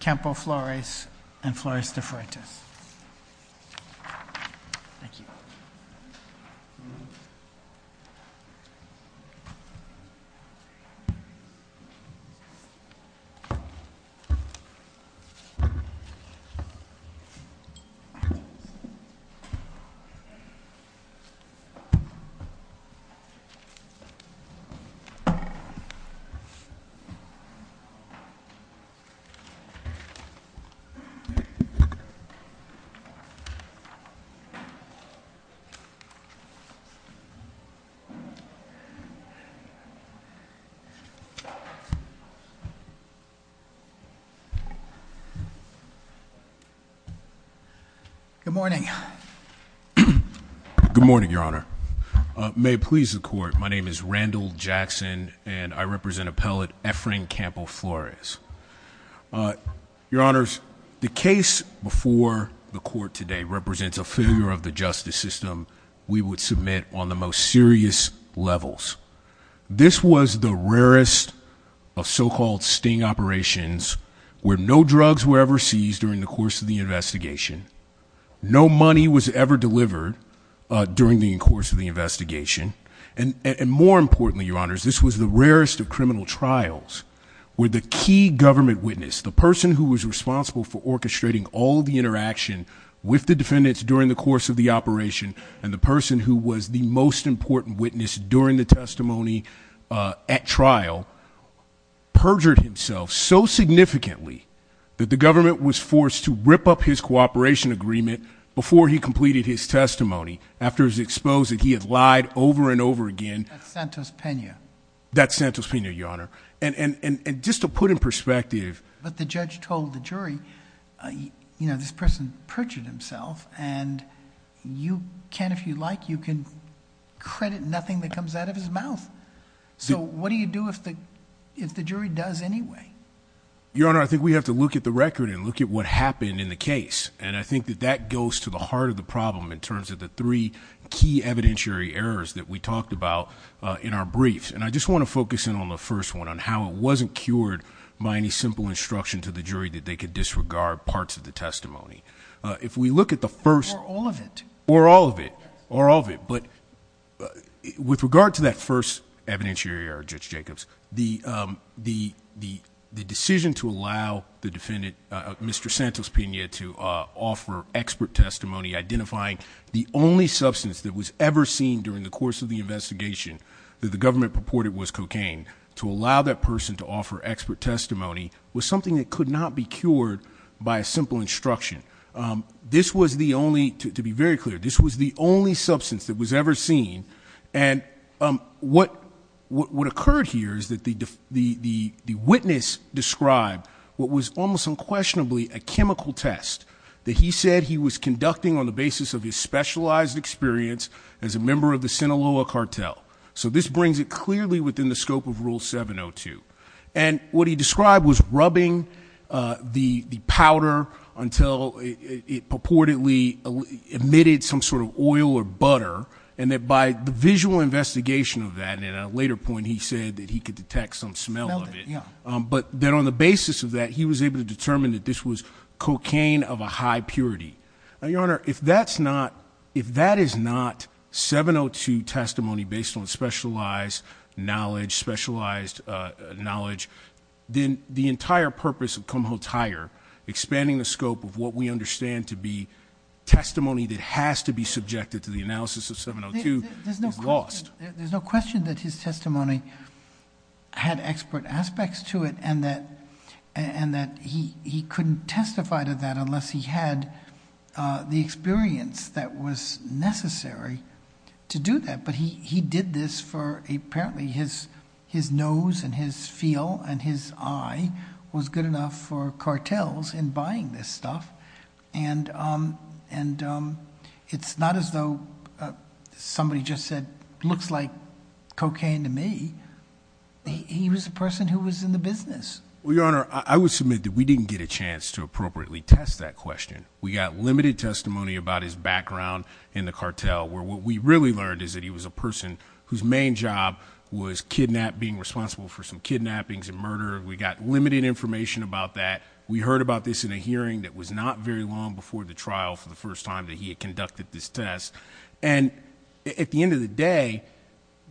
Campo Flores and Flores De Frentes. Good morning. Good morning, Your Honor. May it please the court, my name is Randall Jackson. And I represent appellate Efren Campo Flores. Your Honors, the case before the court today represents a failure of the justice system. We would submit on the most serious levels. This was the rarest of so-called sting operations where no drugs were ever seized during the course of the investigation. No money was ever delivered during the course of the investigation. And more importantly, Your Honors, this was the rarest of criminal trials where the key government witness, the person who was responsible for orchestrating all the interaction with the defendants during the course of the operation, and the person who was the most important witness during the testimony at trial, perjured himself so significantly that the government was forced to rip up his cooperation agreement before he completed his testimony, after he was exposed that he had lied over and over again. That's Santos Pena. That's Santos Pena, Your Honor. And just to put in perspective. But the judge told the jury, this person perjured himself and you can, if you like, you can credit nothing that comes out of his mouth. So what do you do if the jury does anyway? Your Honor, I think we have to look at the record and look at what happened in the case. And I think that that goes to the heart of the problem in terms of the three key evidentiary errors that we talked about in our briefs. And I just want to focus in on the first one, on how it wasn't cured by any simple instruction to the jury that they could disregard parts of the testimony. If we look at the first- Or all of it. Or all of it. Or all of it. But with regard to that first evidentiary error, Judge Jacobs, the decision to allow the defendant, Mr. Santos Pena, to offer expert testimony, identifying the only substance that was ever seen during the course of the investigation. That the government purported was cocaine. To allow that person to offer expert testimony was something that could not be cured by a simple instruction. This was the only, to be very clear, this was the only substance that was ever seen. And what occurred here is that the witness described what was almost unquestionably a chemical test that he said he was conducting on the basis of his specialized experience as a member of the Sinaloa cartel. So this brings it clearly within the scope of rule 702. And what he described was rubbing the powder until it purportedly emitted some sort of oil or butter. And that by the visual investigation of that, and at a later point he said that he could detect some smell of it. But then on the basis of that, he was able to determine that this was cocaine of a high purity. Your Honor, if that is not 702 testimony based on specialized knowledge, specialized knowledge, then the entire purpose of Kumho-Tyre, expanding the scope of what we understand to be testimony that has to be subjected to the analysis of 702 is lost. There's no question that his testimony had expert aspects to it and that he couldn't testify to that unless he had the experience that was necessary to do that. But he did this for, apparently his nose and his feel and his eye was good enough for cartels in buying this stuff. And it's not as though somebody just said, looks like cocaine to me, he was a person who was in the business. Well, Your Honor, I would submit that we didn't get a chance to appropriately test that question. We got limited testimony about his background in the cartel, where what we really learned is that he was a person whose main job was being responsible for some kidnappings and murder. We got limited information about that. We heard about this in a hearing that was not very long before the trial for the first time that he had conducted this test. And at the end of the day,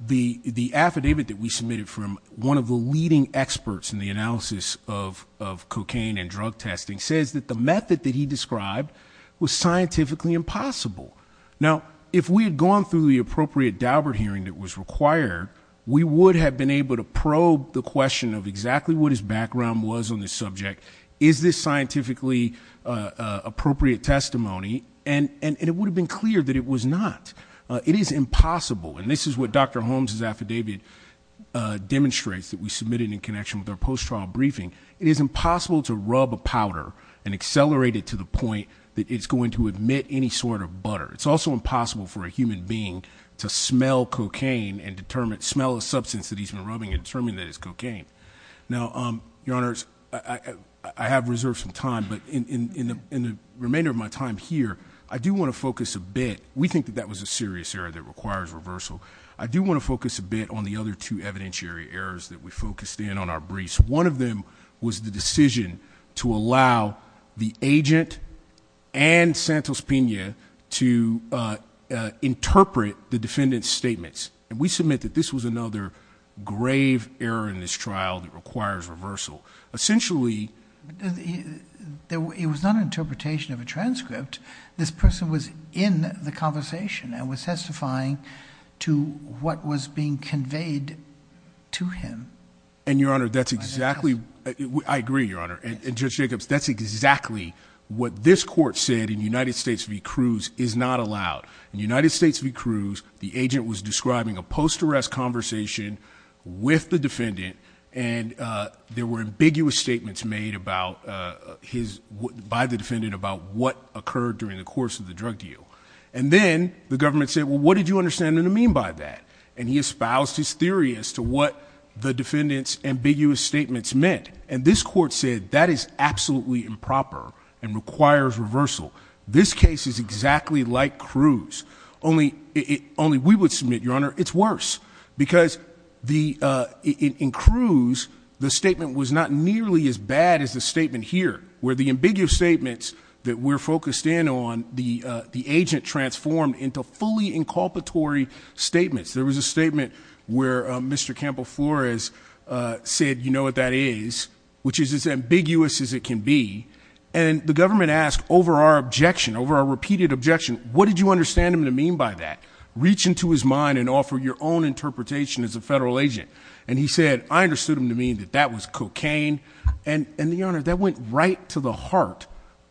the affidavit that we submitted from one of the leading experts in the analysis of cocaine and drug testing says that the method that he described was scientifically impossible. Now, if we had gone through the appropriate Daubert hearing that was required, we would have been able to probe the question of exactly what his background was on this subject. Is this scientifically appropriate testimony? And it would have been clear that it was not. It is impossible, and this is what Dr. Holmes' affidavit demonstrates that we submitted in connection with our post-trial briefing. It is impossible to rub a powder and accelerate it to the point that it's going to emit any sort of butter. It's also impossible for a human being to smell cocaine and smell a substance that he's been rubbing and determine that it's cocaine. Now, your honors, I have reserved some time, but in the remainder of my time here, I do want to focus a bit. We think that that was a serious error that requires reversal. I do want to focus a bit on the other two evidentiary errors that we focused in on our briefs. One of them was the decision to allow the agent and Judge Santos-Pena to interpret the defendant's statements. And we submit that this was another grave error in this trial that requires reversal. Essentially, it was not an interpretation of a transcript. This person was in the conversation and was testifying to what was being conveyed to him. And your honor, that's exactly, I agree, your honor, and Judge Jacobs, that's exactly what this court said in United States v. Cruz is not allowed. In United States v. Cruz, the agent was describing a post-arrest conversation with the defendant. And there were ambiguous statements made by the defendant about what occurred during the course of the drug deal. And then, the government said, well, what did you understand and mean by that? And he espoused his theory as to what the defendant's ambiguous statements meant. And this court said, that is absolutely improper and requires reversal. This case is exactly like Cruz, only we would submit, your honor, it's worse. Because in Cruz, the statement was not nearly as bad as the statement here, where the ambiguous statements that we're focused in on, the agent transformed into fully inculpatory statements. There was a statement where Mr. Campoflores said, you know what that is, which is as ambiguous as it can be. And the government asked, over our objection, over our repeated objection, what did you understand him to mean by that? Reach into his mind and offer your own interpretation as a federal agent. And he said, I understood him to mean that that was cocaine. And your honor, that went right to the heart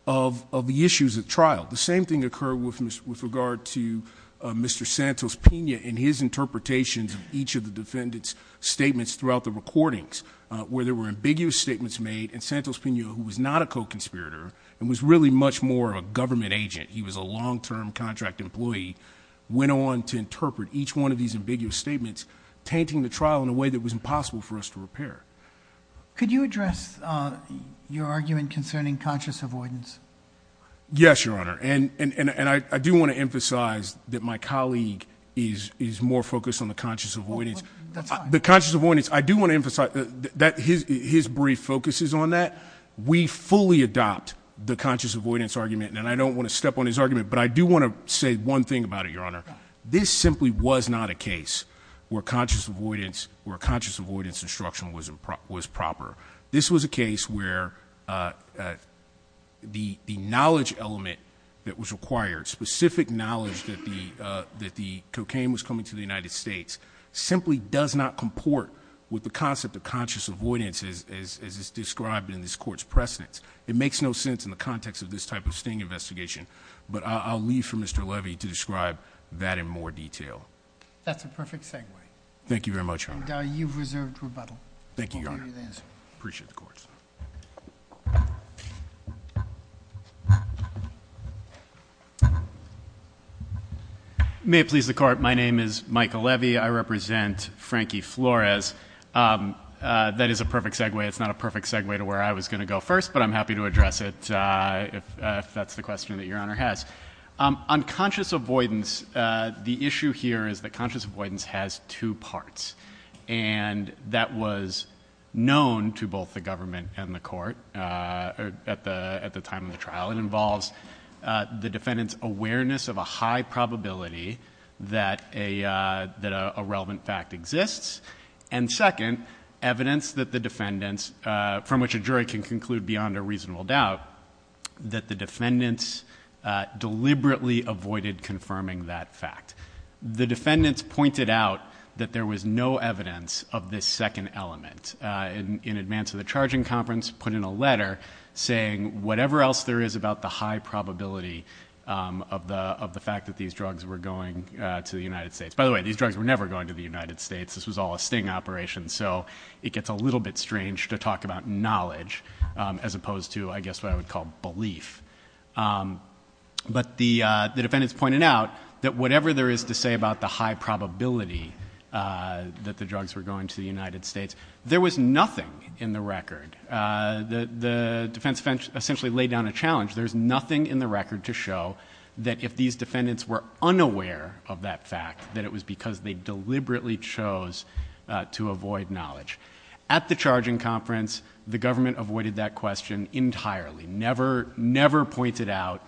of the issues at trial. The same thing occurred with regard to Mr. Santos-Pena and his interpretations of each of the defendant's statements throughout the recordings. Where there were ambiguous statements made, and Santos-Pena, who was not a co-conspirator, and was really much more of a government agent. He was a long-term contract employee, went on to interpret each one of these ambiguous statements, tainting the trial in a way that was impossible for us to repair. Could you address your argument concerning conscious avoidance? Yes, your honor, and I do want to emphasize that my colleague is more focused on the conscious avoidance. The conscious avoidance, I do want to emphasize that his brief focuses on that. We fully adopt the conscious avoidance argument, and I don't want to step on his argument, but I do want to say one thing about it, your honor. This simply was not a case where conscious avoidance instruction was proper. This was a case where the knowledge element that was required, specific knowledge that the cocaine was coming to the United States, simply does not comport with the concept of conscious avoidance as is described in this court's precedence. It makes no sense in the context of this type of sting investigation, but I'll leave for Mr. Levy to describe that in more detail. That's a perfect segue. Thank you very much, your honor. And you've reserved rebuttal. Thank you, your honor. Appreciate the court. May it please the court, my name is Michael Levy. I represent Frankie Flores, that is a perfect segue. It's not a perfect segue to where I was going to go first, but I'm happy to address it if that's the question that your honor has. On conscious avoidance, the issue here is that conscious avoidance has two parts. And that was known to both the government and the court at the time of the trial. It involves the defendant's awareness of a high probability that a relevant fact exists. And second, evidence that the defendants, from which a jury can conclude beyond a reasonable doubt, that the defendants deliberately avoided confirming that fact. The defendants pointed out that there was no evidence of this second element. In advance of the charging conference, put in a letter saying whatever else there is about the high probability of the fact that these drugs were going to the United States. By the way, these drugs were never going to the United States. This was all a sting operation. So it gets a little bit strange to talk about knowledge as opposed to, I guess, what I would call belief. But the defendants pointed out that whatever there is to say about the high probability that the drugs were going to the United States, there was nothing in the record. The defense essentially laid down a challenge. There's nothing in the record to show that if these defendants were unaware of that fact, that it was because they deliberately chose to avoid knowledge. At the charging conference, the government avoided that question entirely. Never, never pointed out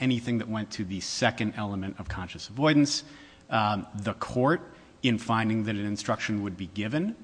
anything that went to the second element of conscious avoidance. The court, in finding that an instruction would be given,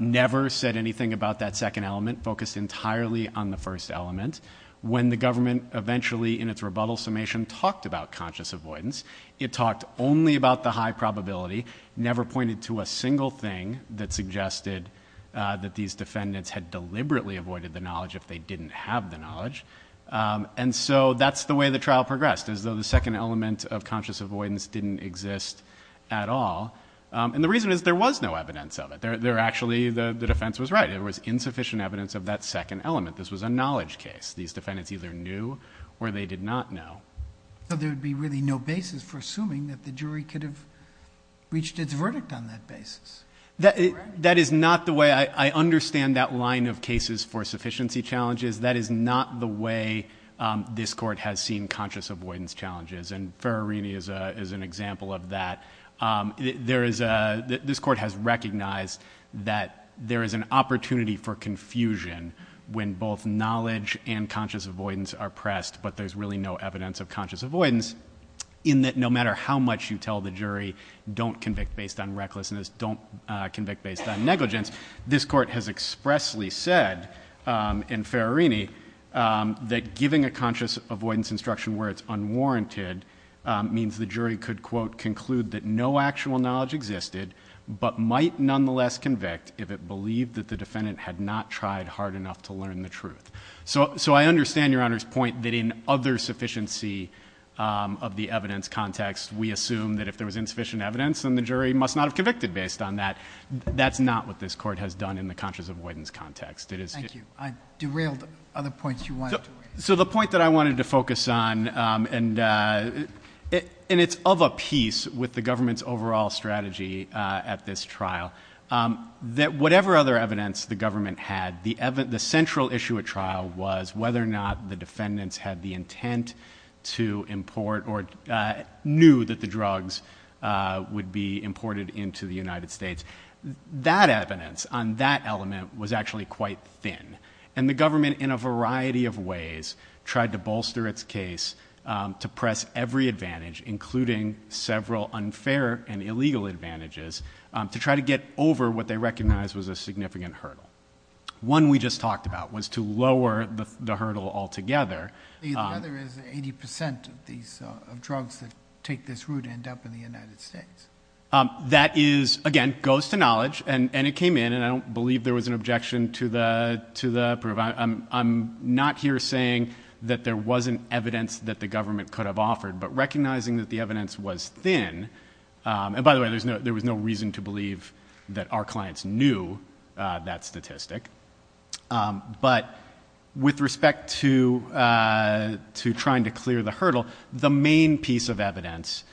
never said anything about that second element, focused entirely on the first element. When the government eventually, in its rebuttal summation, talked about conscious avoidance, it talked only about the high probability, never pointed to a single thing that suggested that these defendants had deliberately avoided the knowledge if they didn't have the knowledge. And so that's the way the trial progressed, as though the second element of conscious avoidance didn't exist at all. And the reason is there was no evidence of it. There actually, the defense was right. There was insufficient evidence of that second element. This was a knowledge case. These defendants either knew or they did not know. So there would be really no basis for assuming that the jury could have reached its verdict on that basis? That is not the way, I understand that line of cases for sufficiency challenges. That is not the way this court has seen conscious avoidance challenges. And Ferrarini is an example of that. This court has recognized that there is an opportunity for confusion when both knowledge and conscious avoidance are pressed. But there's really no evidence of conscious avoidance in that no matter how much you tell the jury, don't convict based on recklessness, don't convict based on negligence. This court has expressly said in Ferrarini that giving a conscious avoidance instruction where it's unwarranted means the jury could, quote, conclude that no actual knowledge existed, but might nonetheless convict if it believed that the defendant had not tried hard enough to learn the truth. So I understand your Honor's point that in other sufficiency of the evidence context, we assume that if there was insufficient evidence, then the jury must not have convicted based on that. That's not what this court has done in the conscious avoidance context. It is- Thank you. I derailed other points you wanted to raise. So the point that I wanted to focus on, and it's of a piece with the government's overall strategy at this trial. That whatever other evidence the government had, the central issue at trial was whether or not the defendants had the intent to import or knew that the drugs would be imported into the United States. That evidence on that element was actually quite thin. And the government, in a variety of ways, tried to bolster its case to press every advantage, including several unfair and illegal advantages, to try to get over what they recognized was a significant hurdle. One we just talked about was to lower the hurdle altogether. The other is 80% of drugs that take this route end up in the United States. That is, again, goes to knowledge, and it came in, and I don't believe there was an objection to the proof. I'm not here saying that there wasn't evidence that the government could have offered, but recognizing that the evidence was thin. And by the way, there was no reason to believe that our clients knew that statistic. But with respect to trying to clear the hurdle, the main piece of evidence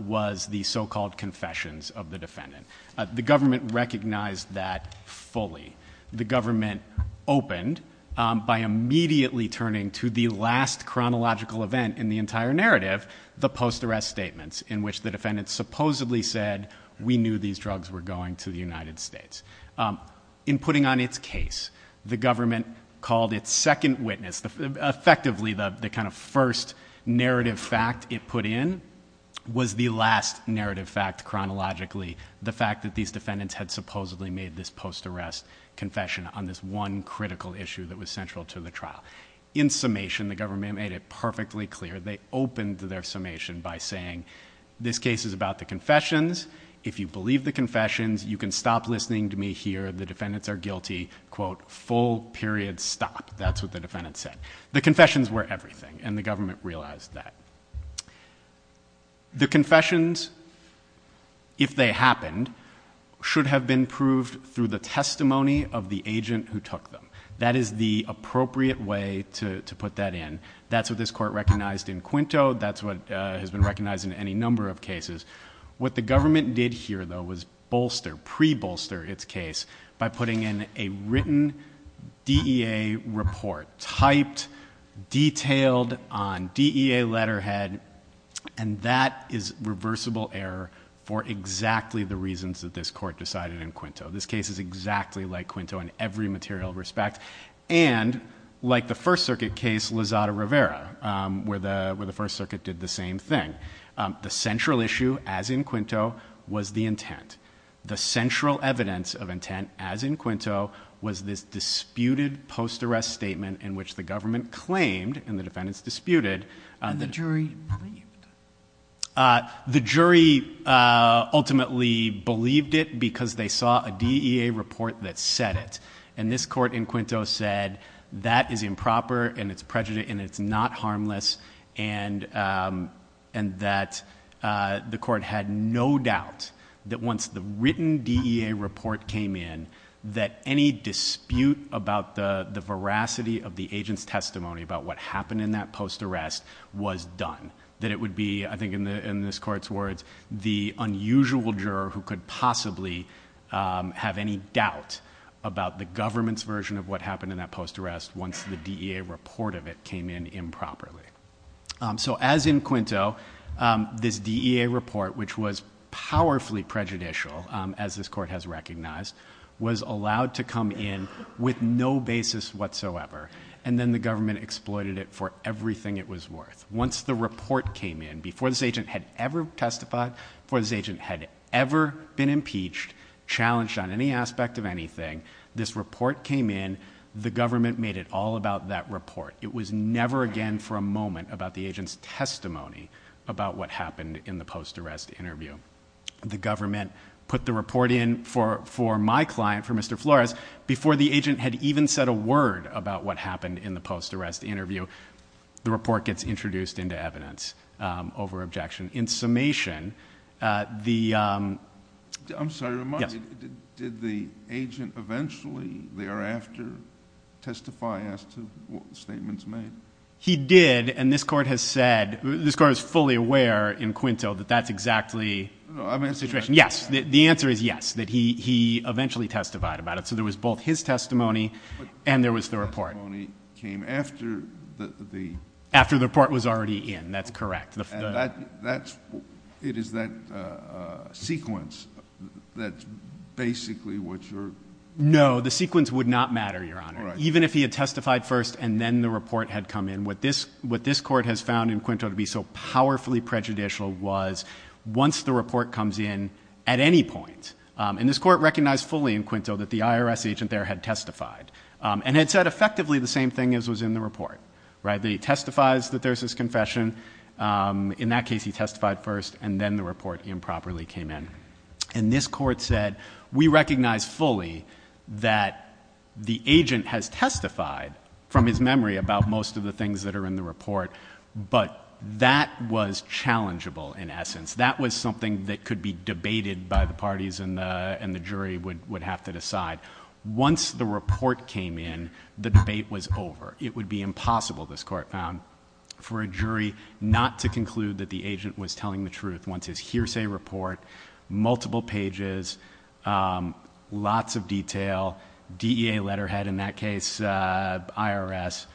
was the so-called confessions of the defendant. The government recognized that fully. The government opened by immediately turning to the last chronological event in the entire narrative, the post-arrest statements, in which the defendant supposedly said, we knew these drugs were going to the United States. In putting on its case, the government called its second witness, effectively the kind of first narrative fact it put in, was the last narrative fact chronologically. The fact that these defendants had supposedly made this post-arrest confession on this one critical issue that was central to the trial. In summation, the government made it perfectly clear. They opened their summation by saying, this case is about the confessions. If you believe the confessions, you can stop listening to me here. The defendants are guilty, quote, full period stop. That's what the defendant said. The confessions were everything, and the government realized that. The confessions, if they happened, should have been proved through the testimony of the agent who took them. That is the appropriate way to put that in. That's what this court recognized in Quinto, that's what has been recognized in any number of cases. What the government did here, though, was bolster, pre-bolster its case by putting in a written DEA report. Typed, detailed on DEA letterhead, and that is reversible error for exactly the reasons that this court decided in Quinto. This case is exactly like Quinto in every material respect. And like the First Circuit case, Lozada Rivera, where the First Circuit did the same thing. The central issue, as in Quinto, was the intent. The central evidence of intent, as in Quinto, was this disputed post-arrest statement in which the government claimed, and the defendants disputed. And the jury believed it. The jury ultimately believed it because they saw a DEA report that said it. And this court in Quinto said, that is improper, and it's prejudiced, and it's not harmless. And that the court had no doubt that once the written DEA report came in, that any dispute about the veracity of the agent's testimony about what happened in that post-arrest was done. That it would be, I think in this court's words, the unusual juror who could possibly have any doubt about the government's version of what happened in that post-arrest once the DEA report of it came in improperly. So as in Quinto, this DEA report, which was powerfully prejudicial, as this court has recognized, was allowed to come in with no basis whatsoever. And then the government exploited it for everything it was worth. Once the report came in, before this agent had ever testified, before this agent had ever been impeached, challenged on any aspect of anything, this report came in, the government made it all about that report. It was never again for a moment about the agent's testimony about what happened in the post-arrest interview. The government put the report in for my client, for Mr. Flores, before the agent had even said a word about what happened in the post-arrest interview. The report gets introduced into evidence over objection. In summation, the- I'm sorry to remind you, did the agent eventually thereafter testify as to what statements made? He did, and this court has said, this court is fully aware in Quinto that that's exactly the situation. Yes, the answer is yes, that he eventually testified about it. So there was both his testimony and there was the report. His testimony came after the- After the report was already in, that's correct. And that's, it is that sequence that's basically what you're- No, the sequence would not matter, Your Honor. Even if he had testified first and then the report had come in, what this court has found in Quinto to be so powerfully prejudicial was once the report comes in, at any point, and this court recognized fully in Quinto that the IRS agent there had testified, and had said effectively the same thing as was in the report, right? That he testifies that there's this confession. In that case, he testified first, and then the report improperly came in. And this court said, we recognize fully that the agent has testified from his memory about most of the things that are in the report, but that was challengeable in essence. That was something that could be debated by the parties and the jury would have to decide. Once the report came in, the debate was over. It would be impossible, this court found, for a jury not to conclude that the agent was telling the truth. Once his hearsay report, multiple pages, lots of detail, DEA letterhead in that case, IRS.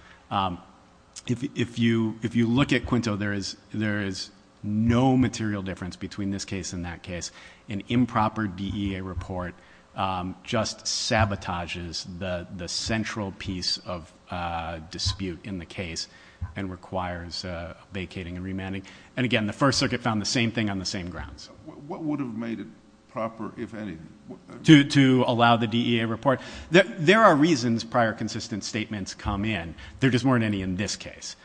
If you look at Quinto, there is no material difference between this case and that case. An improper DEA report just sabotages the central piece of dispute in the case and requires vacating and remanding. And again, the first circuit found the same thing on the same grounds. What would have made it proper, if any? To allow the DEA report. There are reasons prior consistent statements come in. There just weren't any in this case.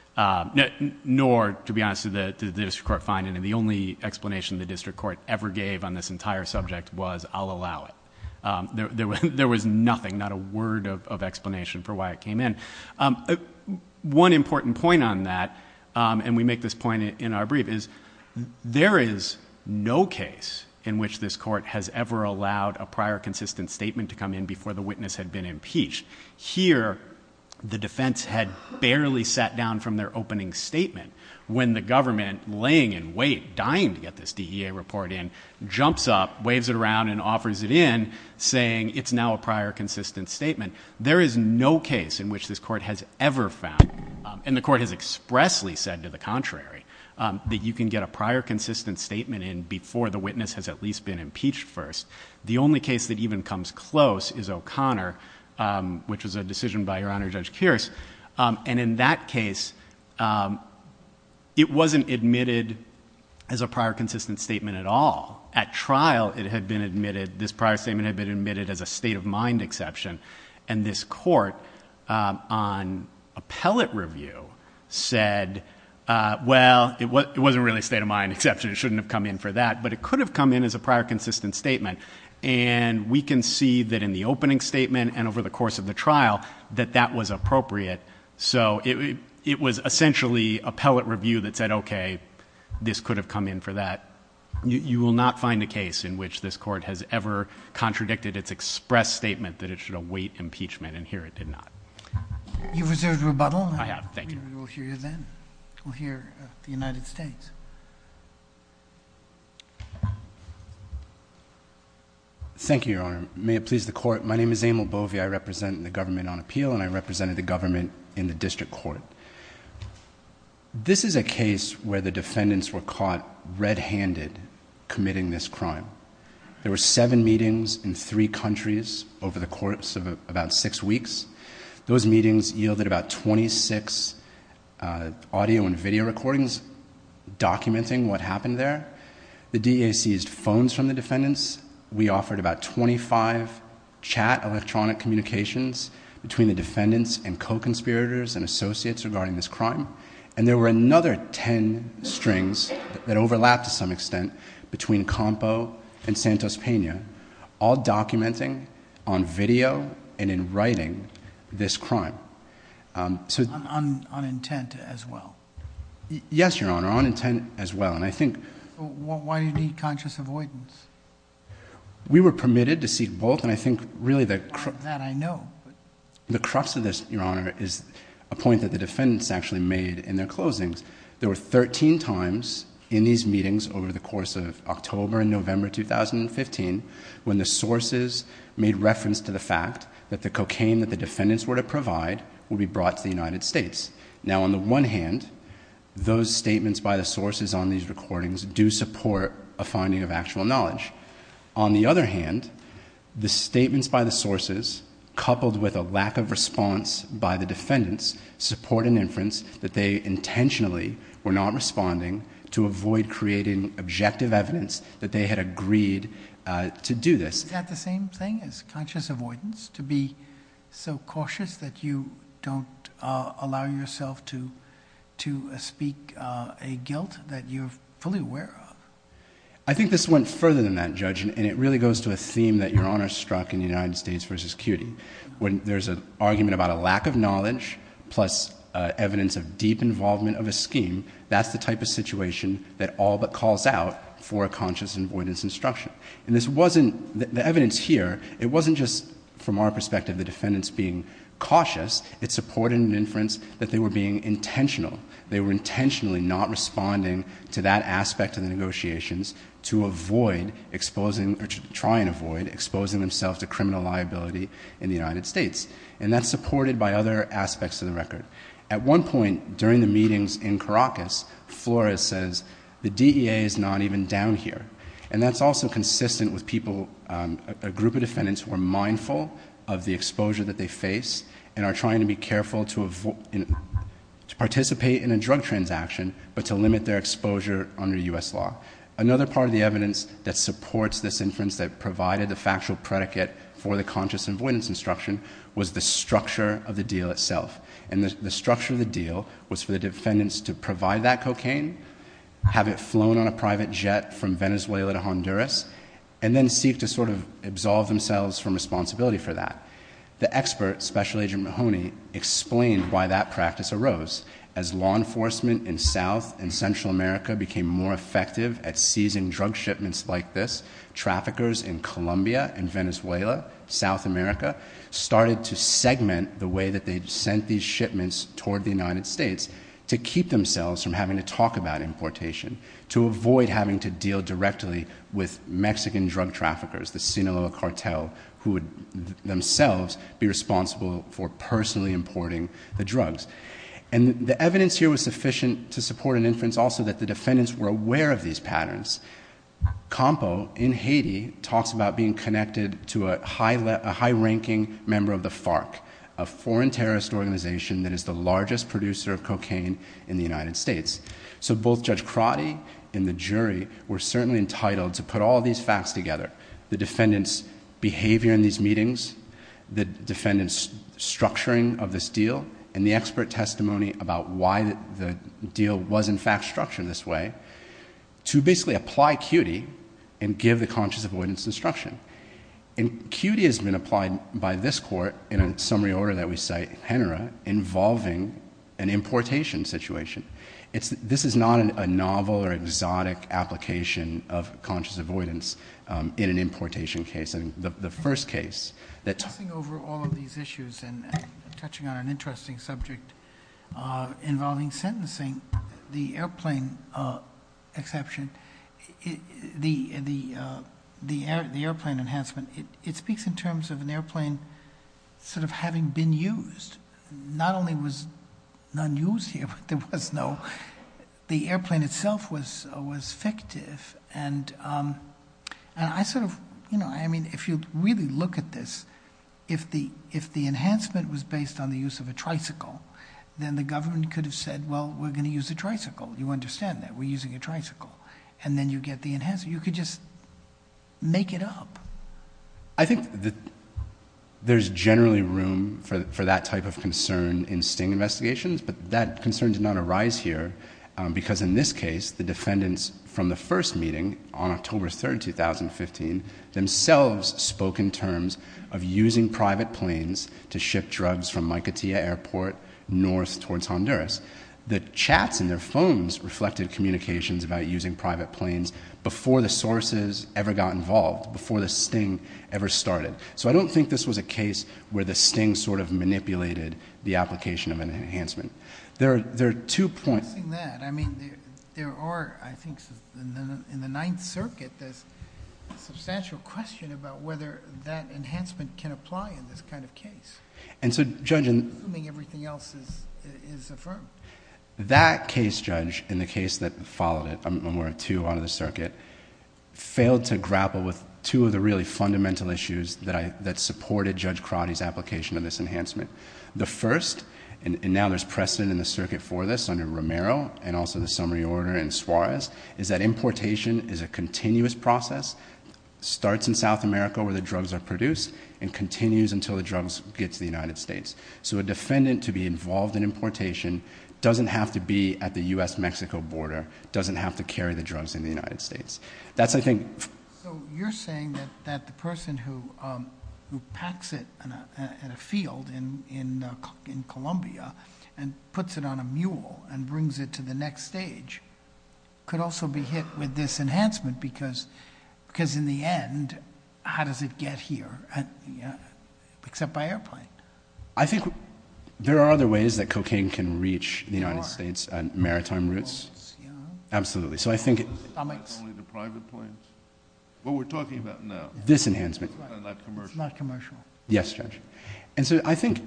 Nor, to be honest, did the district court find any. The only explanation the district court ever gave on this entire subject was, I'll allow it. There was nothing, not a word of explanation for why it came in. One important point on that, and we make this point in our brief, is there is no case in which this court has ever allowed a prior consistent statement to come in before the witness had been impeached. Here, the defense had barely sat down from their opening statement when the government, laying in wait, dying to get this DEA report in, jumps up, waves it around, and offers it in, saying it's now a prior consistent statement. There is no case in which this court has ever found, and the court has expressly said to the contrary, that you can get a prior consistent statement in before the witness has at least been impeached first. The only case that even comes close is O'Connor, which was a decision by Your Honor Judge Kearse. And in that case, it wasn't admitted as a prior consistent statement at all. At trial, it had been admitted, this prior statement had been admitted as a state of mind exception. And this court on appellate review said, well, it wasn't really a state of mind exception, it shouldn't have come in for that, but it could have come in as a prior consistent statement. And we can see that in the opening statement and over the course of the trial, that that was appropriate. So it was essentially appellate review that said, okay, this could have come in for that. You will not find a case in which this court has ever contradicted its express statement that it should await impeachment. And here it did not. You've reserved rebuttal. I have, thank you. We'll hear you then. We'll hear the United States. Thank you, Your Honor. May it please the court. My name is Emil Bovey. I represent the government on appeal, and I represented the government in the district court. This is a case where the defendants were caught red-handed committing this crime. There were seven meetings in three countries over the course of about six weeks. Those meetings yielded about 26 audio and video recordings documenting what happened there. The DA seized phones from the defendants. We offered about 25 chat electronic communications between the defendants and co-conspirators and associates regarding this crime. And there were another ten strings that overlapped to some extent between Campo and Santos Pena, all documenting on video and in writing this crime. On intent as well. Yes, Your Honor, on intent as well. Why do you need conscious avoidance? We were permitted to seek both, and I think really the crux- That I know. The crux of this, Your Honor, is a point that the defendants actually made in their closings. There were 13 times in these meetings over the course of October and November 2015 when the sources made reference to the fact that the cocaine that the defendants were to provide would be brought to the United States. Now on the one hand, those statements by the sources on these recordings do support a finding of actual knowledge. On the other hand, the statements by the sources coupled with a lack of response by the defendants support an inference that they intentionally were not responding to avoid creating objective evidence that they had agreed to do this. Is that the same thing as conscious avoidance? To be so cautious that you don't allow yourself to speak a guilt that you're fully aware of? I think this went further than that, Judge, and it really goes to a theme that Your Honor struck in United States versus CUNY. When there's an argument about a lack of knowledge plus evidence of deep involvement of a scheme, that's the type of situation that all but calls out for a conscious avoidance instruction. And this wasn't, the evidence here, it wasn't just from our perspective, the defendants being cautious. It supported an inference that they were being intentional. They were intentionally not responding to that aspect of the negotiations to avoid exposing, or to try and avoid exposing themselves to criminal liability in the United States. And that's supported by other aspects of the record. At one point during the meetings in Caracas, Flores says the DEA is not even down here. And that's also consistent with people, a group of defendants who are mindful of the exposure that they face and are trying to be careful to participate in a drug transaction, but to limit their exposure under US law. Another part of the evidence that supports this inference that provided the factual predicate for the conscious avoidance instruction was the structure of the deal itself. And the structure of the deal was for the defendants to provide that cocaine, have it flown on a private jet from Venezuela to Honduras, and then seek to sort of absolve themselves from responsibility for that. The expert, Special Agent Mahoney, explained why that practice arose. As law enforcement in South and Central America became more effective at seizing drug shipments like this, traffickers in Colombia and Venezuela, South America, started to segment the way that they sent these shipments toward the United States. To keep themselves from having to talk about importation, to avoid having to deal directly with Mexican drug traffickers, the Sinaloa cartel, who would themselves be responsible for personally importing the drugs. And the evidence here was sufficient to support an inference also that the defendants were aware of these patterns. Campo, in Haiti, talks about being connected to a high ranking member of the FARC, a foreign terrorist organization that is the largest producer of cocaine in the United States. So both Judge Crotty and the jury were certainly entitled to put all these facts together. The defendant's behavior in these meetings, the defendant's structuring of this deal, and the expert testimony about why the deal was in fact structured this way. To basically apply CUTI and give the conscious avoidance instruction. And CUTI has been applied by this court, in a summary order that we cite, HENRA, involving an importation situation. This is not a novel or exotic application of conscious avoidance in an importation case. And the first case that- Passing over all of these issues and touching on an interesting subject involving sentencing, the airplane exception. The airplane enhancement, it speaks in terms of an airplane sort of having been used. Not only was none used here, but there was no, the airplane itself was fictive. And I sort of, you know, I mean, if you really look at this, if the enhancement was based on the use of a tricycle, then the government could have said, well, we're going to use a tricycle. You understand that, we're using a tricycle. And then you get the enhancement, you could just make it up. I think that there's generally room for that type of concern in sting investigations, but that concern did not arise here, because in this case, the defendants from the first meeting, on October 3rd, 2015, themselves spoke in terms of using private planes to ship drugs from Micotia Airport north towards Honduras. The chats in their phones reflected communications about using private planes before the sources ever got involved, before the sting ever started. So I don't think this was a case where the sting sort of manipulated the application of an enhancement. There are two points- In that, I mean, there are, I think, in the Ninth Circuit, there's substantial question about whether that enhancement can apply in this kind of case. And so, Judge- Assuming everything else is affirmed. That case, Judge, in the case that followed it, when we're at two on the circuit, failed to grapple with two of the really fundamental issues that supported Judge Crotty's application of this enhancement. The first, and now there's precedent in the circuit for this under Romero, and also the summary order in Suarez, is that importation is a continuous process, starts in South America where the drugs are produced, and continues until the drugs get to the United States. So a defendant to be involved in importation doesn't have to be at the US-Mexico border, doesn't have to carry the drugs in the United States. That's, I think- So you're saying that the person who packs it in a field in Columbia and puts it on a mule and brings it to the next stage could also be hit with this enhancement because in the end, how does it get here? Yeah, except by airplane. I think there are other ways that cocaine can reach the United States, maritime routes. Absolutely, so I think- Not only the private planes. What we're talking about now. This enhancement. It's not commercial. Yes, Judge. And so I think,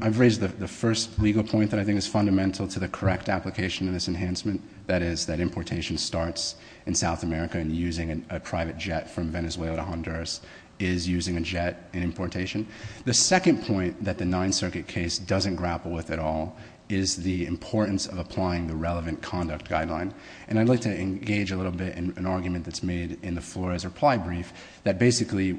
I've raised the first legal point that I think is fundamental to the correct application of this enhancement. That is, that importation starts in South America and using a private jet from Venezuela to Honduras is using a jet in importation. The second point that the Ninth Circuit case doesn't grapple with at all is the importance of applying the relevant conduct guideline. And I'd like to engage a little bit in an argument that's made in the Flores reply brief that basically,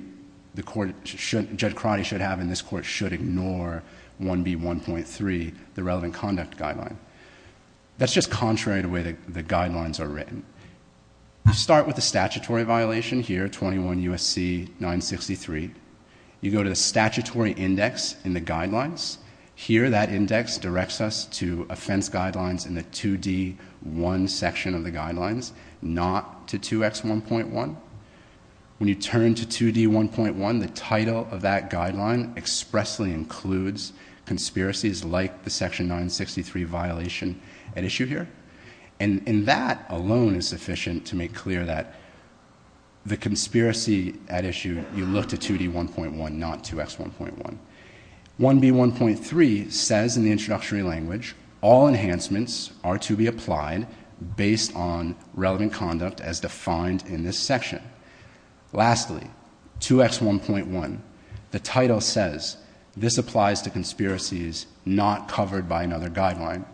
the court, Judge Crotty should have in this court should ignore 1B1.3, the relevant conduct guideline. That's just contrary to the way the guidelines are written. Start with the statutory violation here, 21 U.S.C. 963. You go to the statutory index in the guidelines. Here, that index directs us to offense guidelines in the 2D1 section of the guidelines, not to 2X1.1. When you turn to 2D1.1, the title of that guideline expressly includes conspiracies like the section 963 violation at issue here. And that alone is sufficient to make clear that the conspiracy at issue, you look to 2D1.1, not 2X1.1. 1B1.3 says in the introductory language, all enhancements are to be applied based on relevant conduct as defined in this section. Lastly, 2X1.1, the title says this applies to conspiracies not covered by another guideline.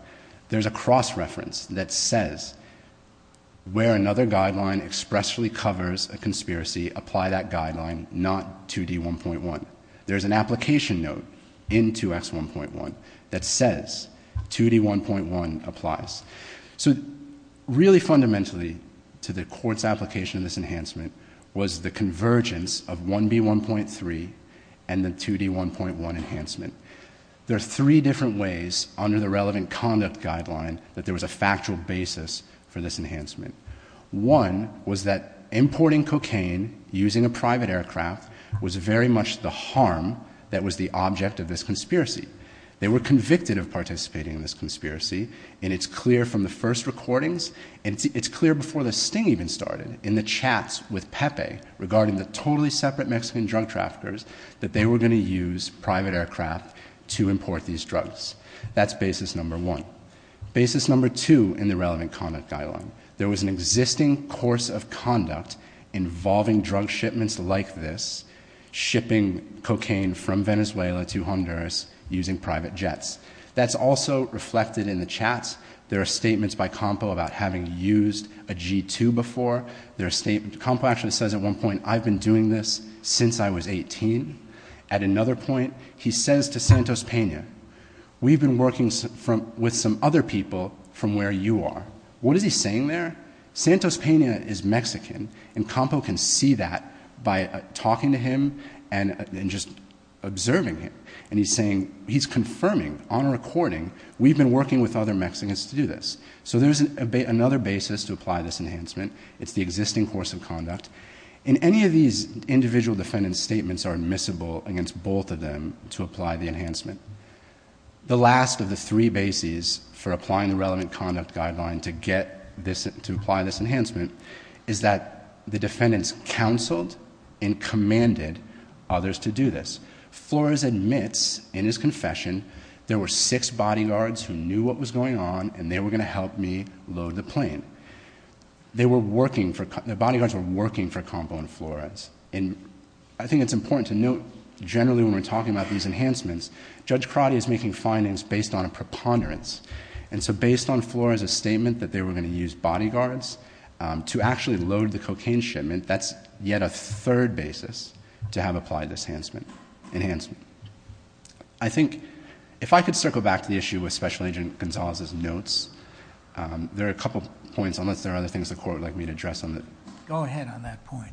There's a cross reference that says where another guideline expressly covers a conspiracy, apply that guideline, not 2D1.1. There's an application note in 2X1.1 that says 2D1.1 applies. So really fundamentally to the court's application of this enhancement was the convergence of 1B1.3 and the 2D1.1 enhancement. There are three different ways under the relevant conduct guideline that there was a factual basis for this enhancement. One was that importing cocaine using a private aircraft was very much the harm that was the object of this conspiracy. They were convicted of participating in this conspiracy, and it's clear from the first recordings, and it's clear before the sting even started, in the chats with Pepe regarding the totally separate Mexican drug traffickers, that they were going to use private aircraft to import these drugs. That's basis number one. Basis number two in the relevant conduct guideline. There was an existing course of conduct involving drug shipments like this, shipping cocaine from Venezuela to Honduras using private jets. That's also reflected in the chats. There are statements by Campo about having used a G2 before. There are statements, Campo actually says at one point, I've been doing this since I was 18. At another point, he says to Santos Pena, we've been working with some other people from where you are. What is he saying there? Santos Pena is Mexican, and Campo can see that by talking to him and just observing him. And he's saying, he's confirming on a recording, we've been working with other Mexicans to do this. So there's another basis to apply this enhancement. It's the existing course of conduct. In any of these, individual defendant's statements are admissible against both of them to apply the enhancement. The last of the three bases for applying the relevant conduct guideline to apply this enhancement is that the defendants counseled and commanded others to do this. Flores admits in his confession, there were six bodyguards who knew what was going on, and they were going to help me load the plane. The bodyguards were working for Campo and Flores. And I think it's important to note, generally when we're talking about these enhancements, Judge Crotty is making findings based on a preponderance. And so based on Flores' statement that they were going to use bodyguards to actually load the cocaine shipment, that's yet a third basis to have applied this enhancement. I think, if I could circle back to the issue with Special Agent Gonzalez's notes. There are a couple points, unless there are other things the court would like me to address on that. Go ahead on that point.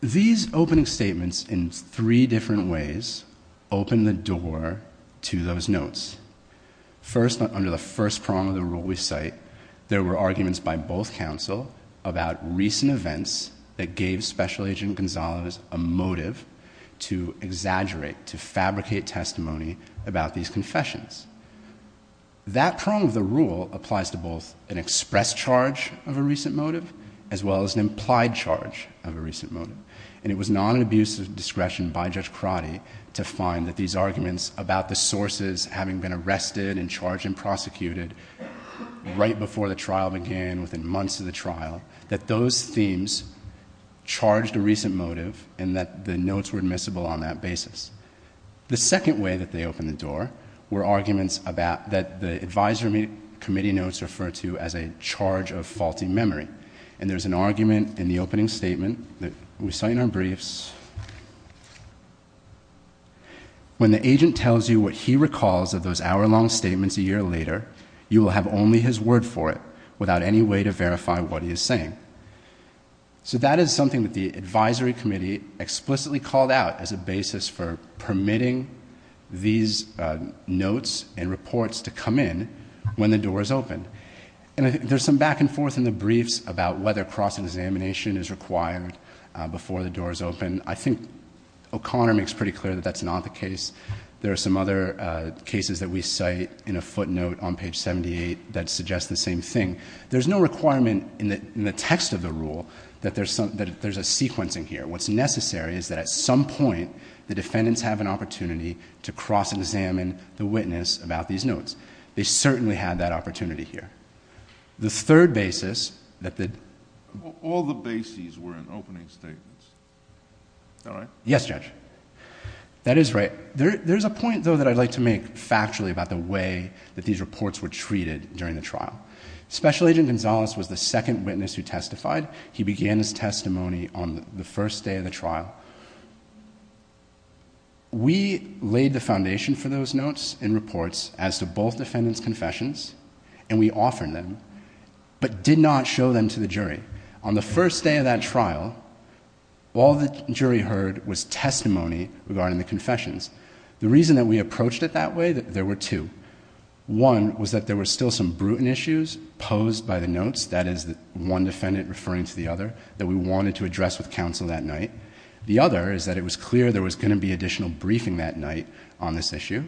These opening statements in three different ways open the door to those notes. First, under the first prong of the rule we cite, there were arguments by both counsel about recent events that gave Special Agent Gonzalez a motive to exaggerate, to fabricate testimony about these confessions. That prong of the rule applies to both an express charge of a recent motive, as well as an implied charge of a recent motive. And it was not an abuse of discretion by Judge Crotty to find that these arguments about the sources having been arrested and charged and prosecuted right before the trial began, within months of the trial, that those themes charged a recent motive, and that the notes were admissible on that basis. The second way that they opened the door were arguments that the advisory committee notes refer to as a charge of faulty memory. And there's an argument in the opening statement that we cite in our briefs. When the agent tells you what he recalls of those hour-long statements a year later, you will have only his word for it without any way to verify what he is saying. So that is something that the advisory committee explicitly called out as a basis for permitting these notes and reports to come in when the door is open. And there's some back and forth in the briefs about whether cross-examination is required before the door is open. I think O'Connor makes pretty clear that that's not the case. There are some other cases that we cite in a footnote on page 78 that suggests the same thing. There's no requirement in the text of the rule that there's a sequencing here. What's necessary is that at some point, the defendants have an opportunity to cross-examine the witness about these notes. They certainly had that opportunity here. The third basis that the- All the bases were in opening statements. Is that right? Yes, Judge. That is right. There's a point, though, that I'd like to make factually about the way that these reports were treated during the trial. Special Agent Gonzalez was the second witness who testified. He began his testimony on the first day of the trial. We laid the foundation for those notes and reports as to both defendants' confessions, and we offered them, but did not show them to the jury. On the first day of that trial, all the jury heard was testimony regarding the confessions. The reason that we approached it that way, there were two. One was that there were still some brutal issues posed by the notes, that is one defendant referring to the other, that we wanted to address with counsel that night. The other is that it was clear there was going to be additional briefing that night on this issue.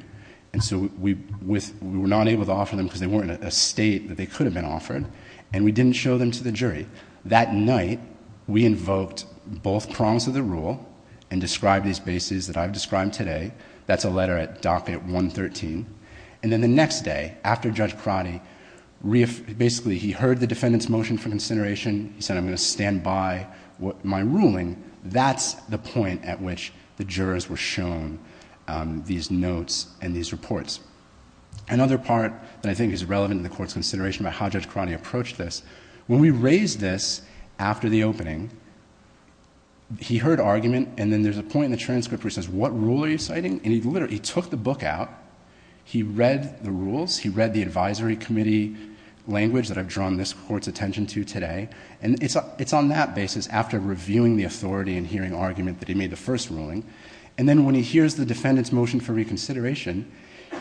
And so we were not able to offer them because they weren't in a state that they could have been offered, and we didn't show them to the jury. That night, we invoked both prongs of the rule and described these bases that I've described today. That's a letter at docket 113. And then the next day, after Judge Crotty, basically, he heard the defendant's motion for consideration. He said, I'm going to stand by my ruling. That's the point at which the jurors were shown these notes and these reports. Another part that I think is relevant in the court's consideration about how Judge Crotty approached this, when we raised this after the opening, he heard argument. And then there's a point in the transcript where it says, what rule are you citing? And he literally took the book out. He read the rules. He read the advisory committee language that I've drawn this court's attention to today. And it's on that basis, after reviewing the authority and hearing argument, that he made the first ruling. And then when he hears the defendant's motion for reconsideration,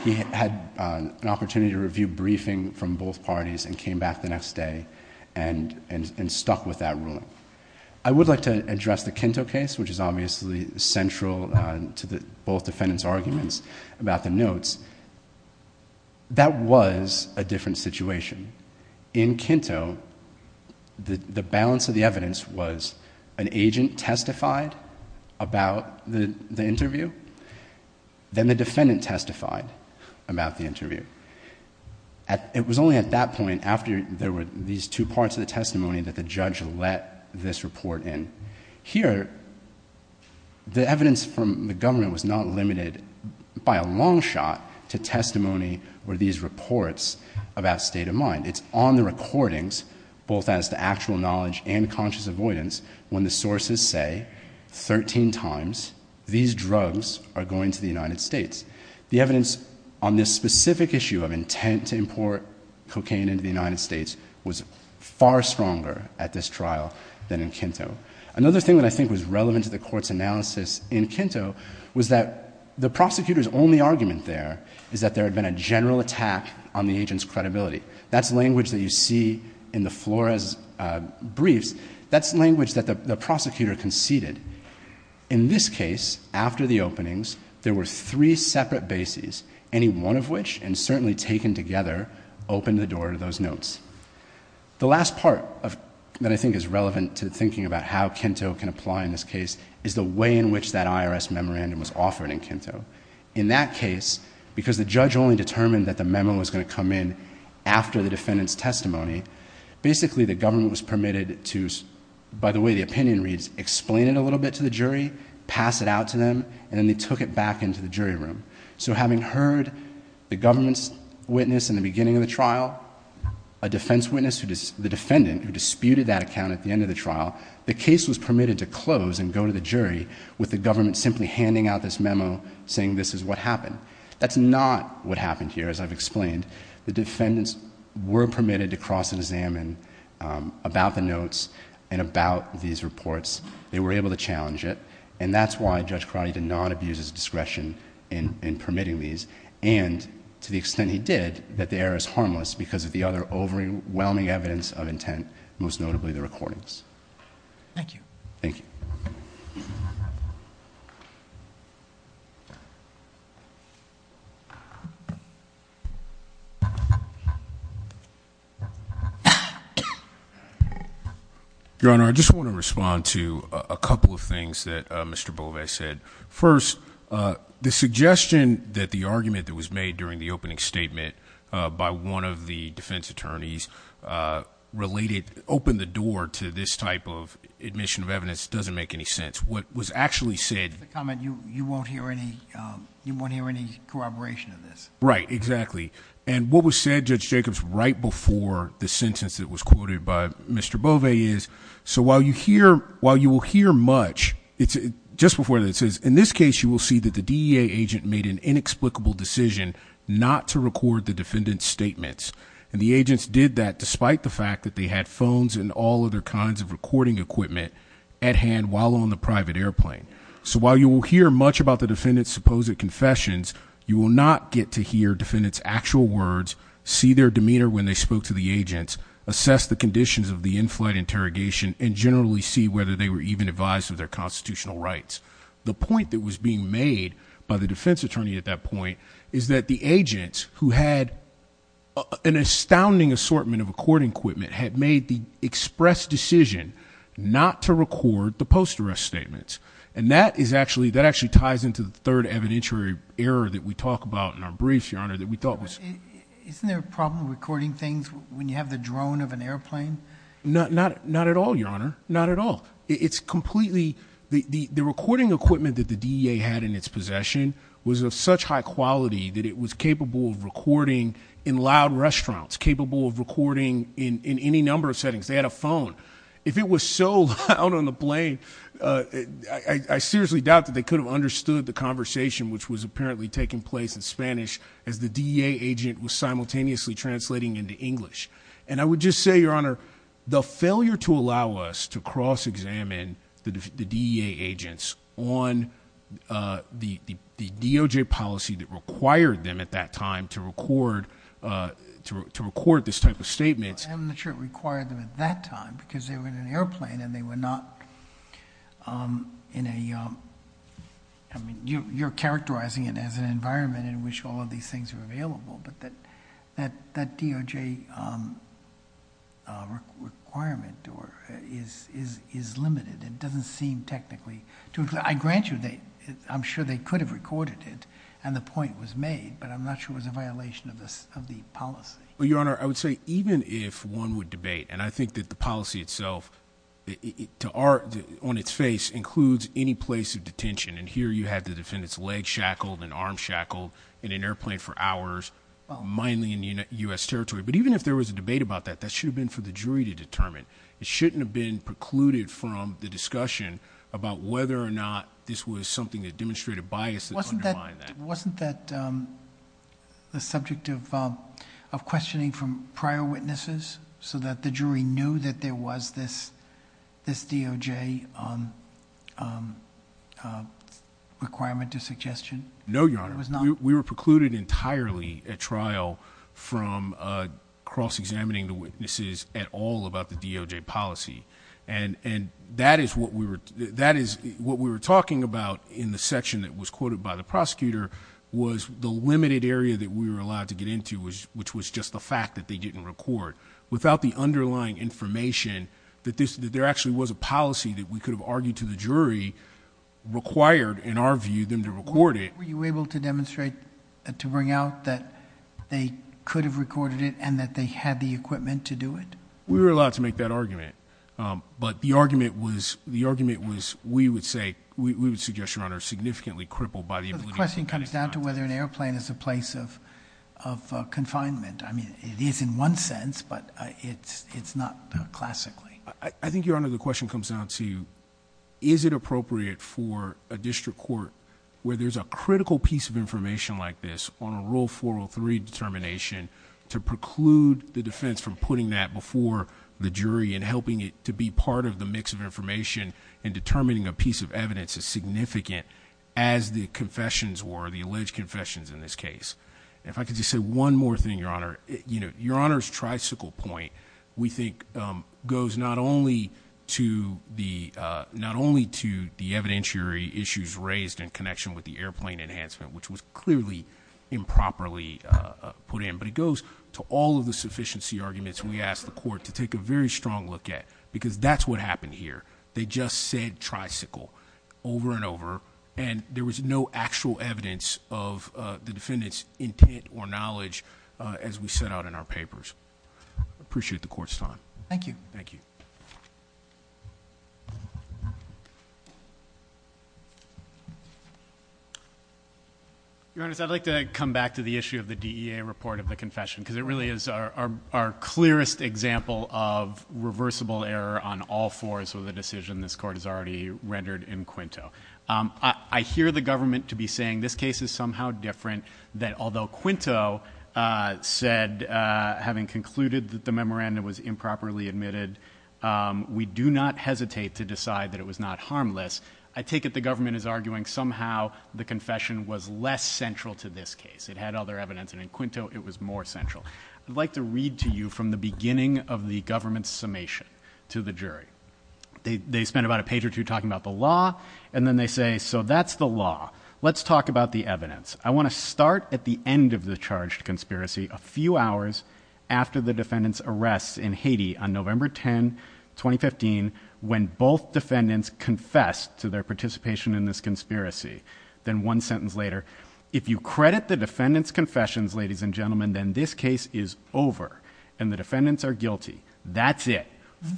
he had an opportunity to review briefing from both parties and came back the next day and stuck with that ruling. I would like to address the Kinto case, which is obviously central to both defendants' arguments about the notes. That was a different situation. In Kinto, the balance of the evidence was an agent testified about the interview. It was only at that point, after there were these two parts of the testimony, that the judge let this report in. Here, the evidence from the government was not limited, by a long shot, to testimony or these reports about state of mind. It's on the recordings, both as to actual knowledge and conscious avoidance, when the sources say 13 times, these drugs are going to the United States. The evidence on this specific issue of intent to import cocaine into the United States was far stronger at this trial than in Kinto. Another thing that I think was relevant to the court's analysis in Kinto was that the prosecutor's only argument there is that there had been a general attack on the agent's credibility. That's language that you see in the Flores briefs. That's language that the prosecutor conceded. In this case, after the openings, there were three separate bases, any one of which, and certainly taken together, opened the door to those notes. The last part that I think is relevant to thinking about how Kinto can apply in this case, is the way in which that IRS memorandum was offered in Kinto. In that case, because the judge only determined that the memo was going to come in after the defendant's testimony, basically the government was permitted to, by the way the opinion reads, explain it a little bit to the jury, pass it out to them, and then they took it back into the jury room. So having heard the government's witness in the beginning of the trial, a defense witness, the defendant who disputed that account at the end of the trial, the case was permitted to close and go to the jury with the government simply handing out this memo saying this is what happened. That's not what happened here, as I've explained. The defendants were permitted to cross and examine about the notes and about these reports. They were able to challenge it, and that's why Judge Carotti did not abuse his discretion in permitting these. And to the extent he did, that the error is harmless because of the other overwhelming evidence of intent, most notably the recordings. Thank you. Thank you. Your Honor, I just want to respond to a couple of things that Mr. Boves said. First, the suggestion that the argument that was made during the opening statement by one of the defense attorneys related, opened the door to this type of admission of evidence doesn't make any sense. What was actually said- Just a comment, you won't hear any corroboration of this. Right, exactly. And what was said, Judge Jacobs, right before the sentence that was quoted by Mr. Boves is, so while you will hear much, just before this is, in this case, you will see that the DEA agent made an inexplicable decision not to record the defendant's statements. And the agents did that despite the fact that they had phones and all other kinds of recording equipment at hand while on the private airplane. So while you will hear much about the defendant's supposed confessions, you will not get to hear defendant's actual words, see their demeanor when they spoke to the agents, assess the conditions of the in-flight interrogation, and generally see whether they were even advised of their constitutional rights. The point that was being made by the defense attorney at that point is that the agents who had an astounding assortment of recording equipment had made the express decision not to record the post arrest statements. And that actually ties into the third evidentiary error that we talk about in our brief, Your Honor, that we thought was- Isn't there a problem recording things when you have the drone of an airplane? Not at all, Your Honor, not at all. It's completely, the recording equipment that the DEA had in its possession was of such high quality that it was capable of recording in loud restaurants, capable of recording in any number of settings, they had a phone. If it was so loud on the plane, I seriously doubt that they could have understood the conversation, which was apparently taking place in Spanish, as the DEA agent was simultaneously translating into English. And I would just say, Your Honor, the failure to allow us to cross-examine the DEA agents on the DOJ policy that required them at that time to record this type of statement. I'm not sure it required them at that time, because they were in an airplane and they were not in a, I mean, you're characterizing it as an environment in which all of these things are available. But that DOJ requirement is limited. It doesn't seem technically to... I grant you, I'm sure they could have recorded it and the point was made, but I'm not sure it was a violation of the policy. Well, Your Honor, I would say even if one would debate, and I think that the policy itself, to our... on its face, includes any place of detention. And here you have the defendant's leg shackled and arm shackled in an airplane for hours, mainly in U.S. territory. But even if there was a debate about that, that should have been for the jury to determine. It shouldn't have been precluded from the discussion about whether or not this was something that demonstrated bias that undermined that. Wasn't that the subject of questioning from prior witnesses? So that the jury knew that there was this DOJ requirement or suggestion? No, Your Honor. We were precluded entirely at trial from cross-examining the witnesses at all about the DOJ policy. And that is what we were talking about in the section that was quoted by the prosecutor, was the limited area that we were allowed to get into, which was just the fact that they didn't record. Without the underlying information, that there actually was a policy that we could have argued to the jury, required, in our view, them to record it. Were you able to demonstrate, to bring out that they could have recorded it, and that they had the equipment to do it? We were allowed to make that argument. But the argument was, we would say, we would suggest, Your Honor, significantly crippled by the ability- The question comes down to whether an airplane is a place of confinement. I mean, it is in one sense, but it's not classically. I think, Your Honor, the question comes down to, is it appropriate for a district court where there's a critical piece of information like this on a rule 403 determination to preclude the defense from putting that before the jury and helping it to be part of the mix of information. And determining a piece of evidence as significant as the confessions were, the alleged confessions in this case. If I could just say one more thing, Your Honor. Your Honor's tricycle point, we think, goes not only to the evidentiary issues raised in connection with the airplane enhancement, which was clearly improperly put in, but it goes to all of the sufficiency arguments we asked the court to take a very strong look at. Because that's what happened here. They just said tricycle over and over, and there was no actual evidence of the defendant's intent or knowledge as we set out in our papers. Appreciate the court's time. Thank you. Thank you. Your Honor, I'd like to come back to the issue of the DEA report of the confession, because it really is our clearest example of reversible error on all fours with a decision this court has already rendered in Quinto. I hear the government to be saying this case is somehow different, that although Quinto said, having concluded that the memorandum was improperly admitted, we do not hesitate to decide that it was not harmless. I take it the government is arguing somehow the confession was less central to this case. It had other evidence, and in Quinto it was more central. I'd like to read to you from the beginning of the government's summation to the jury. They spend about a page or two talking about the law, and then they say, so that's the law. Let's talk about the evidence. I want to start at the end of the charged conspiracy a few hours after the defendant's arrest in Haiti on November 10, 2015, when both defendants confessed to their participation in this conspiracy. Then one sentence later, if you credit the defendant's confessions, ladies and gentlemen, then this case is over, and the defendants are guilty. That's it,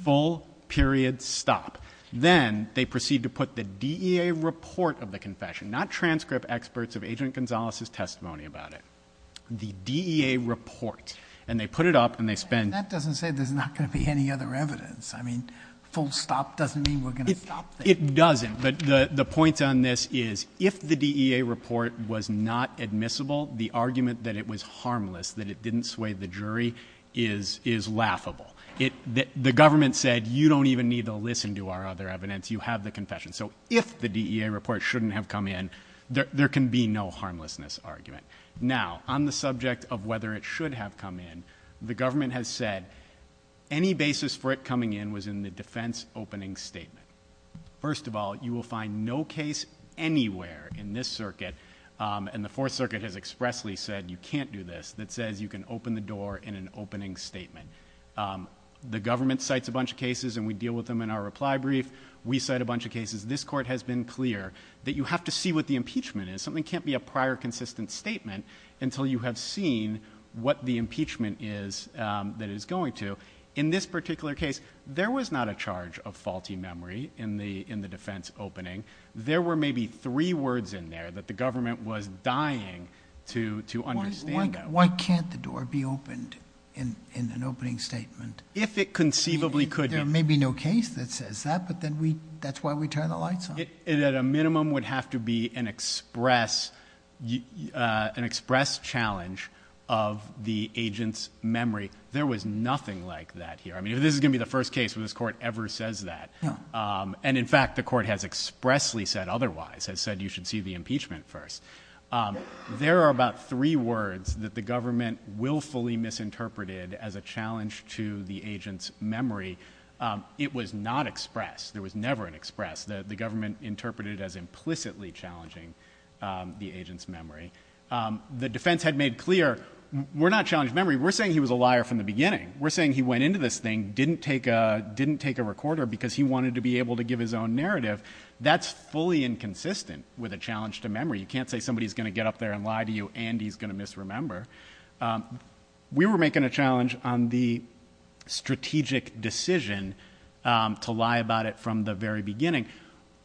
full period stop. Then they proceed to put the DEA report of the confession, not transcript experts of Agent Gonzales' testimony about it. The DEA report, and they put it up and they spend- And that doesn't say there's not going to be any other evidence. I mean, full stop doesn't mean we're going to stop. It doesn't, but the point on this is, if the DEA report was not admissible, the argument that it was harmless, that it didn't sway the jury, is laughable. The government said, you don't even need to listen to our other evidence, you have the confession. So if the DEA report shouldn't have come in, there can be no harmlessness argument. Now, on the subject of whether it should have come in, the government has said, any basis for it coming in was in the defense opening statement. First of all, you will find no case anywhere in this circuit, and the Fourth Circuit has expressly said you can't do this, that says you can open the door in an opening statement. The government cites a bunch of cases and we deal with them in our reply brief. We cite a bunch of cases. This court has been clear that you have to see what the impeachment is. So something can't be a prior consistent statement until you have seen what the impeachment is that it's going to. In this particular case, there was not a charge of faulty memory in the defense opening. There were maybe three words in there that the government was dying to understand that. Why can't the door be opened in an opening statement? If it conceivably could be. There may be no case that says that, but that's why we turn the lights on. It at a minimum would have to be an express challenge of the agent's memory. There was nothing like that here. I mean, if this is going to be the first case where this court ever says that, and in fact, the court has expressly said otherwise, has said you should see the impeachment first. There are about three words that the government willfully misinterpreted as a challenge to the agent's memory. It was not expressed. There was never an express. The government interpreted as implicitly challenging the agent's memory. The defense had made clear, we're not challenging memory, we're saying he was a liar from the beginning. We're saying he went into this thing, didn't take a recorder because he wanted to be able to give his own narrative. That's fully inconsistent with a challenge to memory. You can't say somebody's going to get up there and lie to you and he's going to misremember. We were making a challenge on the strategic decision to lie about it from the very beginning.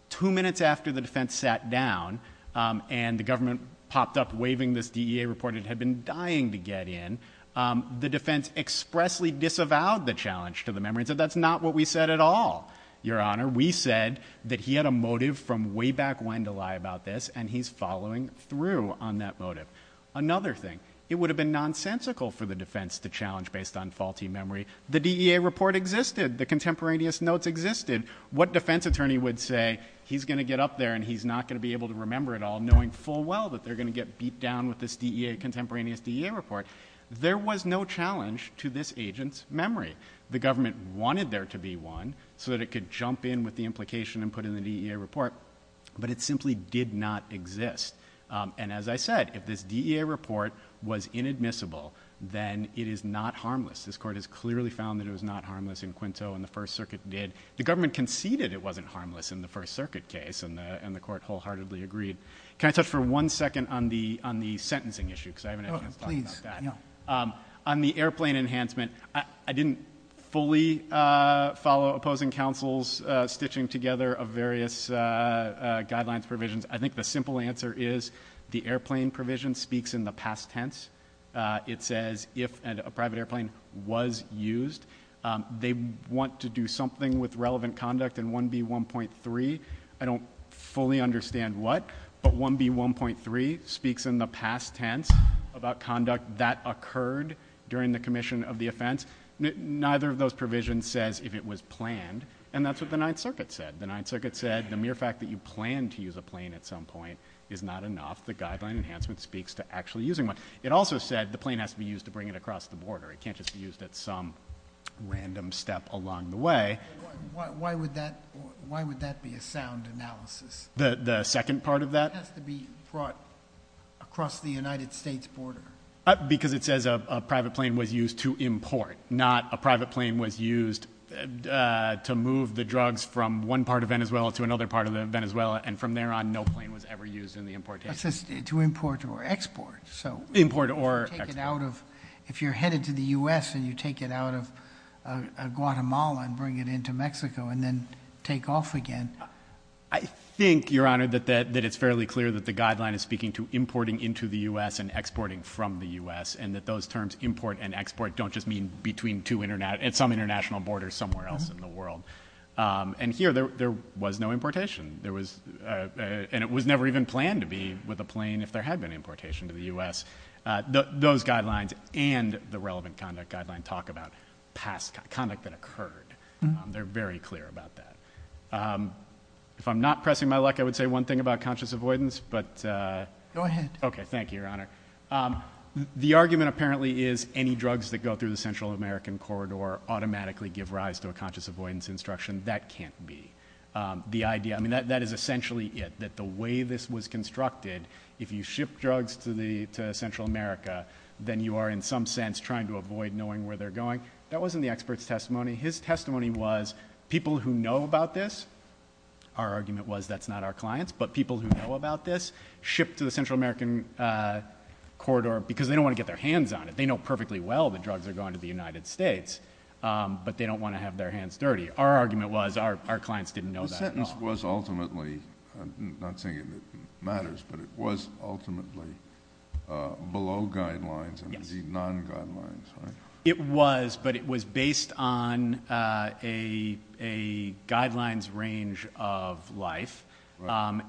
Two minutes after the defense sat down and the government popped up waving this DEA report it had been dying to get in, the defense expressly disavowed the challenge to the memory and said that's not what we said at all. Your Honor, we said that he had a motive from way back when to lie about this and he's following through on that motive. Another thing, it would have been nonsensical for the defense to challenge based on faulty memory. The DEA report existed, the contemporaneous notes existed. What defense attorney would say, he's going to get up there and he's not going to be able to remember it all knowing full well that they're going to get beat down with this DEA, contemporaneous DEA report. There was no challenge to this agent's memory. The government wanted there to be one so that it could jump in with the implication and put in the DEA report. But it simply did not exist. And as I said, if this DEA report was inadmissible, then it is not harmless. This court has clearly found that it was not harmless in Quinto and the First Circuit did. The government conceded it wasn't harmless in the First Circuit case and the court wholeheartedly agreed. Can I touch for one second on the sentencing issue, because I haven't had a chance to talk about that. On the airplane enhancement, I didn't fully follow opposing counsel's stitching together of various guidelines, provisions. I think the simple answer is the airplane provision speaks in the past tense. It says if a private airplane was used, they want to do something with relevant conduct in 1B1.3. I don't fully understand what, but 1B1.3 speaks in the past tense about conduct that occurred during the commission of the offense. Neither of those provisions says if it was planned, and that's what the Ninth Circuit said. The Ninth Circuit said the mere fact that you plan to use a plane at some point is not enough. The guideline enhancement speaks to actually using one. It also said the plane has to be used to bring it across the border. It can't just be used at some random step along the way. Why would that be a sound analysis? The second part of that? It has to be brought across the United States border. Because it says a private plane was used to import, not a private plane was used to move the drugs from one part of Venezuela to another part of Venezuela. And from there on, no plane was ever used in the importation. It says to import or export, so- Import or export. If you're headed to the US and you take it out of Guatemala and bring it into Mexico and then take off again. I think, Your Honor, that it's fairly clear that the guideline is speaking to importing into the US and exporting from the US. And that those terms, import and export, don't just mean at some international border somewhere else in the world. And here, there was no importation. And it was never even planned to be with a plane if there had been importation to the US. Those guidelines and the relevant conduct guideline talk about past conduct that occurred. They're very clear about that. If I'm not pressing my luck, I would say one thing about conscious avoidance, but- Go ahead. Okay, thank you, Your Honor. The argument apparently is any drugs that go through the Central American corridor automatically give rise to a conscious avoidance instruction, that can't be. The idea, I mean, that is essentially it. That the way this was constructed, if you ship drugs to Central America, then you are in some sense trying to avoid knowing where they're going. That wasn't the expert's testimony. His testimony was, people who know about this, our argument was that's not our clients. But people who know about this ship to the Central American corridor because they don't want to get their hands on it. They know perfectly well the drugs are going to the United States, but they don't want to have their hands dirty. Our argument was our clients didn't know that at all. The sentence was ultimately, I'm not saying it matters, but it was ultimately below guidelines, and indeed non-guidelines, right? It was, but it was based on a guidelines range of life.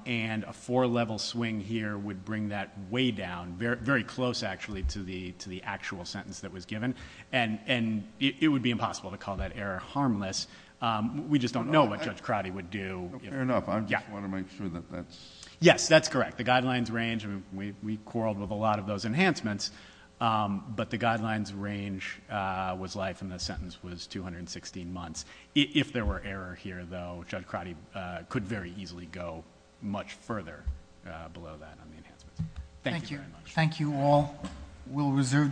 And a four level swing here would bring that way down, very close actually to the actual sentence that was given. And it would be impossible to call that error harmless. We just don't know what Judge Crotty would do. Fair enough, I just want to make sure that that's- Yes, that's correct. The guidelines range, we quarreled with a lot of those enhancements, but the guidelines range was life and the sentence was 216 months. If there were error here though, Judge Crotty could very easily go much further below that on the enhancements. Thank you very much. Thank you all. We'll reserve decision.